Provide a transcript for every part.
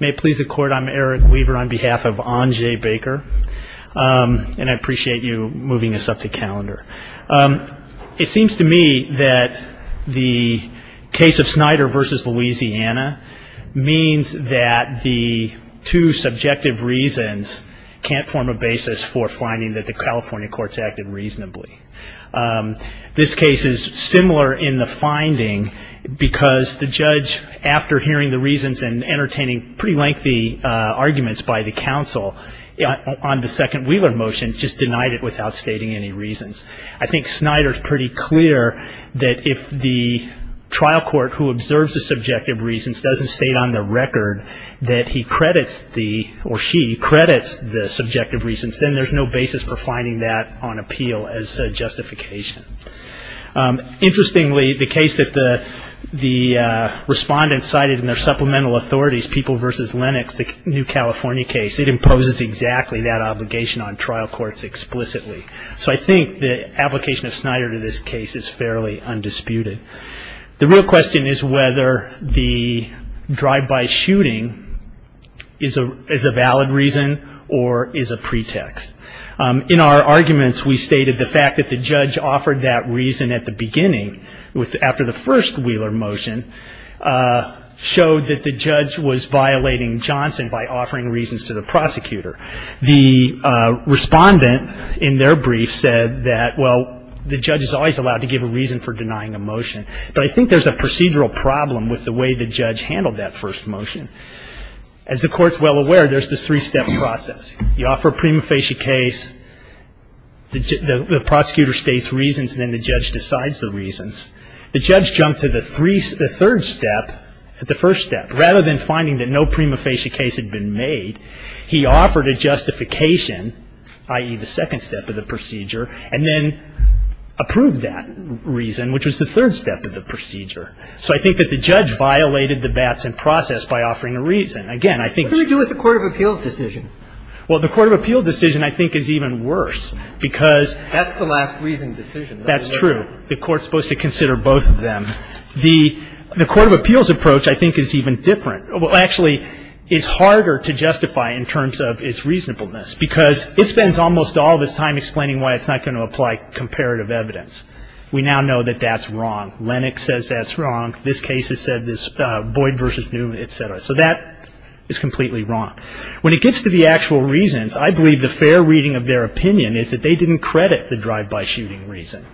May it please the Court, I'm Eric Weaver on behalf of Anjay Baker, and I appreciate you moving this up the calendar. It seems to me that the case of Snyder v. Louisiana means that the two subjective reasons can't form a basis for finding that the California courts acted reasonably. This case is similar in the finding because the judge, after hearing the reasons and entertaining pretty lengthy arguments by the counsel on the second Wheeler motion, just denied it without stating any reasons. I think Snyder's pretty clear that if the trial court who observes the subjective reasons doesn't state on the record that he credits the or she credits the subjective reasons, then there's no basis for finding that on appeal as justification. Interestingly, the case that the respondents cited in their supplemental authorities, People v. Lennox, the New California case, it imposes exactly that obligation on trial courts explicitly. So I think the application of Snyder to this case is fairly undisputed. The real question is whether the drive-by shooting is a valid reason or is a pretext. In our arguments, we stated the fact that the judge offered that reason at the beginning after the first Wheeler motion showed that the judge was violating Johnson by offering reasons to the prosecutor. The respondent in their brief said that, well, the judge is always allowed to give a reason for denying a motion. But I think there's a procedural problem with the way the judge handled that first motion. As the Court's well aware, there's this three-step process. You offer a prima facie case, the prosecutor states reasons, and then the judge decides the reasons. The judge jumped to the third step, the first step. Rather than finding that no prima facie case had been made, he offered a justification, i.e., the second step of the procedure, and then approved that reason, which was the third step of the procedure. So I think that the judge violated the Batson process by offering a reason. Again, I think ---- What do we do with the court of appeals decision? Well, the court of appeals decision, I think, is even worse because ---- That's the last reason decision. That's true. The Court's supposed to consider both of them. The court of appeals approach, I think, is even different. Well, actually, it's harder to justify in terms of its reasonableness because it spends almost all this time explaining why it's not going to apply comparative evidence. We now know that that's wrong. Lennox says that's wrong. This case has said this, Boyd v. Newman, et cetera. So that is completely wrong. When it gets to the actual reasons, I believe the fair reading of their opinion is that they didn't credit the drive-by shooting reason.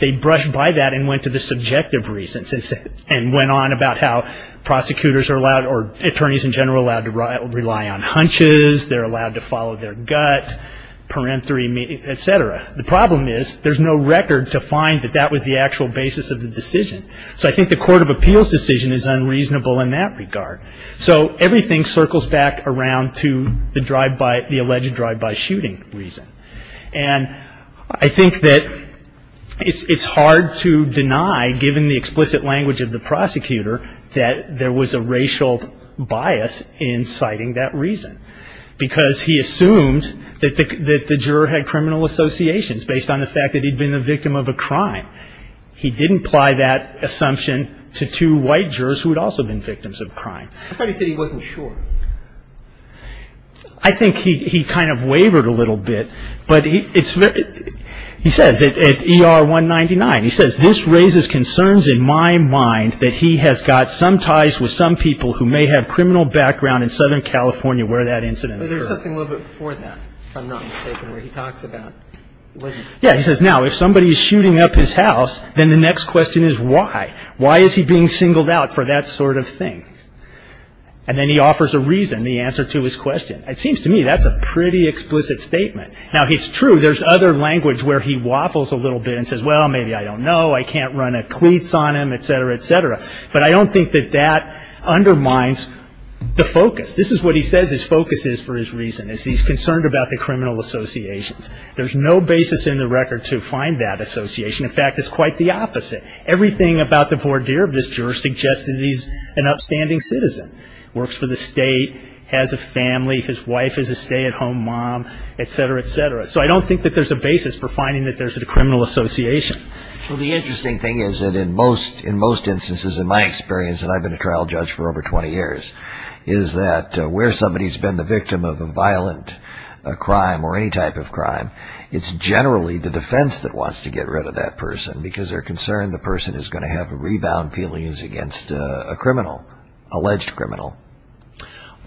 They brushed by that and went to the subjective reasons and went on about how prosecutors are allowed or attorneys in general are allowed to rely on hunches, they're allowed to follow their gut, parenthery, et cetera. The problem is there's no record to find that that was the actual basis of the decision. So I think the court of appeals decision is unreasonable in that regard. So everything circles back around to the drive-by ---- the alleged drive-by shooting reason. And I think that it's hard to deny, given the explicit language of the prosecutor, that there was a racial bias in citing that reason because he assumed that the juror had criminal associations based on the fact that he'd been the victim of a crime. He didn't apply that assumption to two white jurors who had also been victims of crime. I thought he said he wasn't sure. I think he kind of wavered a little bit. But it's very ---- he says at ER 199, he says, this raises concerns in my mind that he has got some ties with some people who may have criminal background in Southern California where that incident occurred. But there's something a little bit before that, if I'm not mistaken, where he talks about ---- Yeah, he says, now, if somebody is shooting up his house, then the next question is why. Why is he being singled out for that sort of thing? And then he offers a reason, the answer to his question. It seems to me that's a pretty explicit statement. Now, it's true, there's other language where he waffles a little bit and says, well, maybe I don't know, I can't run a cleats on him, et cetera, et cetera. But I don't think that that undermines the focus. This is what he says his focus is for his reason, is he's concerned about the criminal associations. There's no basis in the record to find that association. In fact, it's quite the opposite. Everything about the voir dire of this juror suggests that he's an upstanding citizen, works for the state, has a family, his wife is a stay-at-home mom, et cetera, et cetera. So I don't think that there's a basis for finding that there's a criminal association. Well, the interesting thing is that in most instances, in my experience, and I've been a trial judge for over 20 years, is that where somebody's been the victim of a violent crime or any type of crime, it's generally the defense that wants to get rid of that person because they're concerned the person is going to have rebound feelings against a criminal, alleged criminal.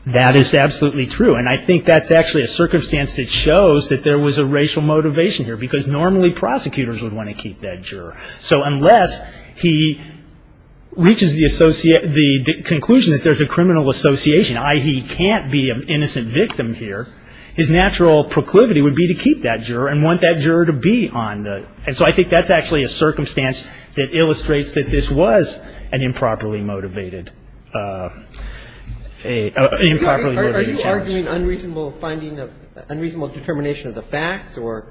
That is absolutely true, and I think that's actually a circumstance that shows that there was a racial motivation here because normally prosecutors would want to keep that juror. So unless he reaches the conclusion that there's a criminal association, i.e., he can't be an innocent victim here, his natural proclivity would be to keep that juror and want that juror to be on the – and so I think that's actually a circumstance that illustrates that this was an improperly motivated – an improperly motivated charge. Are you arguing unreasonable finding of – unreasonable determination of the facts or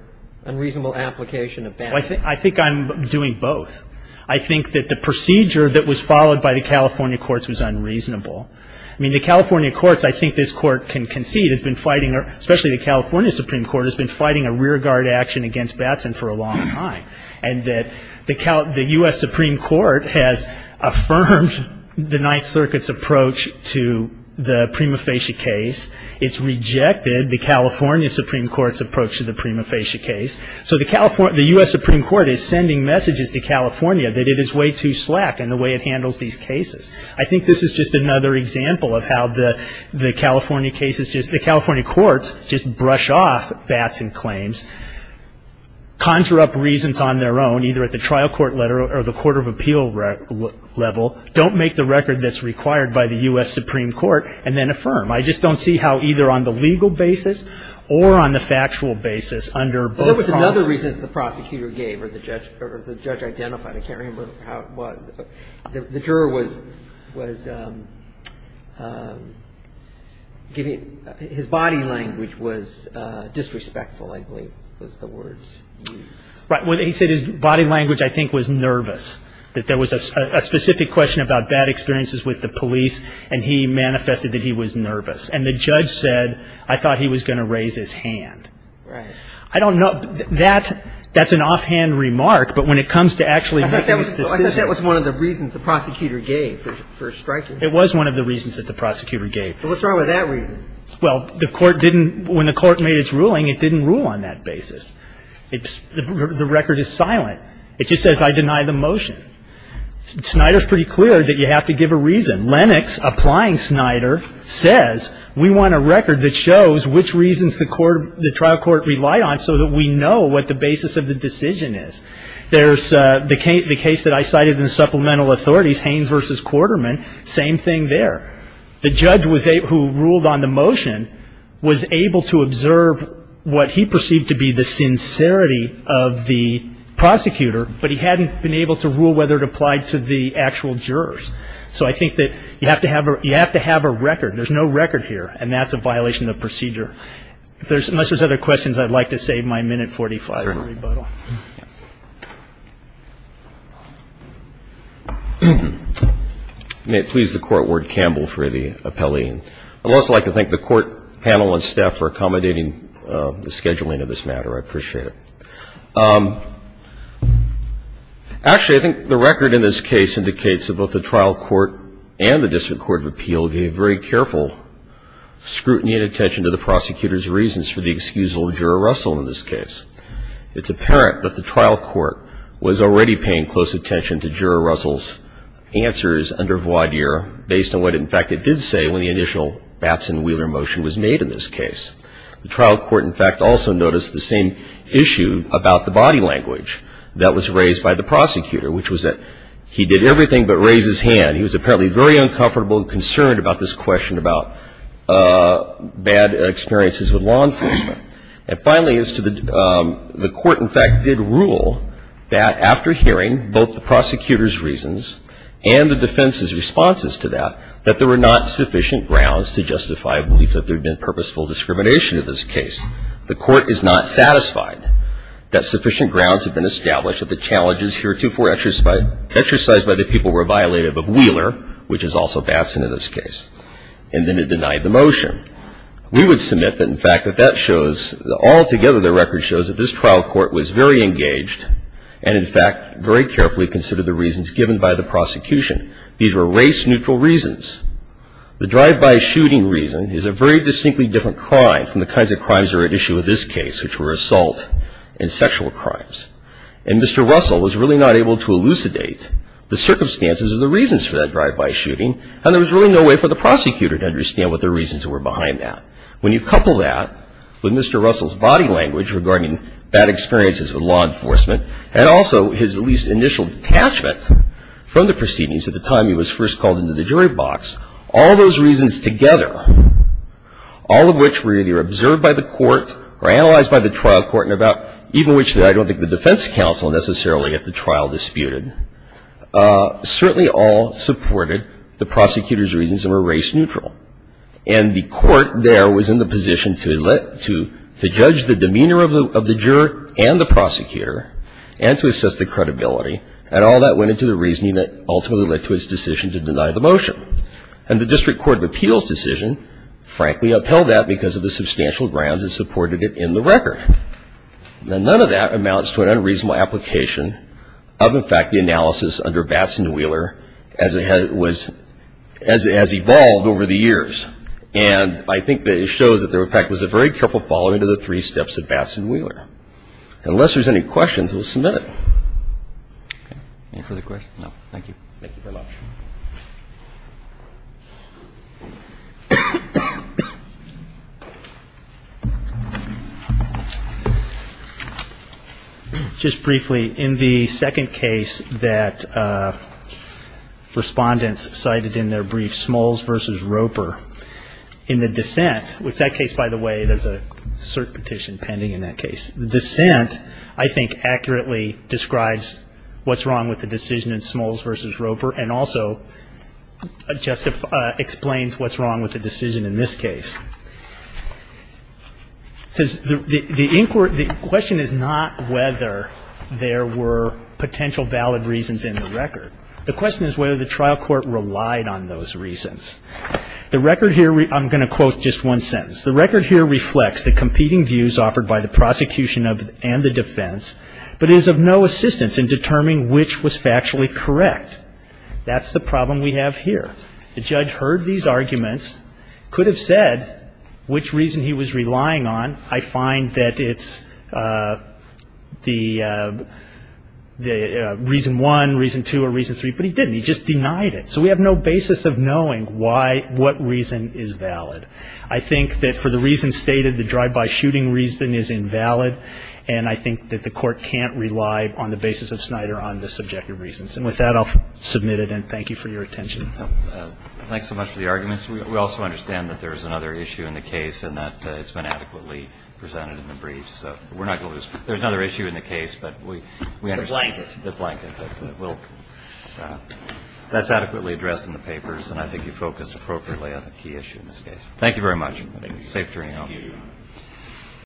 unreasonable application of Batson? I think I'm doing both. I think that the procedure that was followed by the California courts was unreasonable. I mean, the California courts, I think this Court can concede, has been fighting – and that the U.S. Supreme Court has affirmed the Ninth Circuit's approach to the Prima Facie case. It's rejected the California Supreme Court's approach to the Prima Facie case. So the U.S. Supreme Court is sending messages to California that it is way too slack in the way it handles these cases. I think this is just another example of how the California cases just – the California courts just brush off Batson claims, conjure up reasons on their own, either at the trial court level or the court of appeal level, don't make the record that's required by the U.S. Supreme Court, and then affirm. I just don't see how either on the legal basis or on the factual basis under both – There was another reason that the prosecutor gave or the judge identified. I can't remember how it was. The juror was giving – his body language was disrespectful, I believe, was the words used. Right. He said his body language, I think, was nervous, that there was a specific question about bad experiences with the police, and he manifested that he was nervous. And the judge said, I thought he was going to raise his hand. Right. I don't know – that's an offhand remark, but when it comes to actually making its decision – Well, I thought that was one of the reasons the prosecutor gave for striking him. It was one of the reasons that the prosecutor gave. Well, what's wrong with that reason? Well, the court didn't – when the court made its ruling, it didn't rule on that basis. The record is silent. It just says I deny the motion. Snyder's pretty clear that you have to give a reason. Lennox, applying Snyder, says we want a record that shows which reasons the court – the trial court relied on so that we know what the basis of the decision is. There's the case that I cited in supplemental authorities, Haynes v. Quarterman, same thing there. The judge who ruled on the motion was able to observe what he perceived to be the sincerity of the prosecutor, but he hadn't been able to rule whether it applied to the actual jurors. So I think that you have to have a record. There's no record here, and that's a violation of procedure. Unless there's other questions, I'd like to save my minute 45 for rebuttal. May it please the Court, Ward Campbell, for the appellee. I'd also like to thank the court panel and staff for accommodating the scheduling of this matter. I appreciate it. Actually, I think the record in this case indicates that both the trial court and the district court of appeal gave very careful scrutiny and attention to the prosecutor's reasons for the excusable juror Russell in this case. It's apparent that the trial court was already paying close attention to juror Russell's answers under voir dire based on what, in fact, it did say when the initial Batson-Wheeler motion was made in this case. The trial court, in fact, also noticed the same issue about the body language that was raised by the prosecutor, which was that he did everything but raise his hand. He was apparently very uncomfortable and concerned about this question about bad experiences with law enforcement. And finally, as to the court, in fact, did rule that after hearing both the prosecutor's reasons and the defense's responses to that, that there were not sufficient grounds to justify a belief that there had been purposeful discrimination in this case. The court is not satisfied that sufficient grounds had been established that the challenges heretofore exercised by the people were violative of Wheeler, which is also Batson in this case, and then it denied the motion. We would submit that, in fact, that that shows altogether the record shows that this trial court was very engaged and, in fact, very carefully considered the reasons given by the prosecution. These were race-neutral reasons. The drive-by shooting reason is a very distinctly different crime from the kinds of crimes that are at issue in this case, which were assault and sexual crimes. And Mr. Russell was really not able to elucidate the circumstances of the reasons for that drive-by shooting, and there was really no way for the prosecutor to understand what the reasons were behind that. When you couple that with Mr. Russell's body language regarding bad experiences with law enforcement and also his at least initial detachment from the proceedings at the time he was first called into the jury box, all those reasons together, all of which were either observed by the court or analyzed by the trial court and about even which I don't think the defense counsel necessarily at the trial disputed, certainly all supported the prosecutor's reasons and were race-neutral. And the court there was in the position to let to judge the demeanor of the juror and the prosecutor and to assess the credibility. And all that went into the reasoning that ultimately led to its decision to deny the motion. And the District Court of Appeals decision, frankly, upheld that because of the substantial grounds that supported it in the record. Now, none of that amounts to an unreasonable application of, in fact, the analysis under Batson-Wheeler as it has evolved over the years. And I think that it shows that there, in fact, was a very careful following of the three steps of Batson-Wheeler. Unless there's any questions, we'll submit it. Any further questions? No, thank you. Thank you very much. Just briefly, in the second case that respondents cited in their brief, Smalls v. Roper, in the dissent, which that case, by the way, there's a cert petition pending in that case, the dissent, I think, accurately describes what's wrong with the decision in Smalls v. Roper and also explains what's wrong with the decision in this case. It says the question is not whether there were potential valid reasons in the record. The question is whether the trial court relied on those reasons. The record here, I'm going to quote just one sentence. The record here reflects the competing views offered by the prosecution and the defense, but is of no assistance in determining which was factually correct. That's the problem we have here. The judge heard these arguments, could have said which reason he was relying on. I find that it's the reason one, reason two, or reason three, but he didn't. He just denied it. So we have no basis of knowing why, what reason is valid. I think that for the reasons stated, the drive-by shooting reason is invalid, and I think that the court can't rely on the basis of Snyder on the subjective reasons. And with that, I'll submit it, and thank you for your attention. Thanks so much for the arguments. We also understand that there is another issue in the case and that it's been adequately presented in the briefs. So we're not going to lose. There's another issue in the case, but we understand. The blanket. The blanket. That's adequately addressed in the papers, and I think you focused appropriately on the key issue in this case. Thank you very much. Safe journey home. Thank you. Thank you.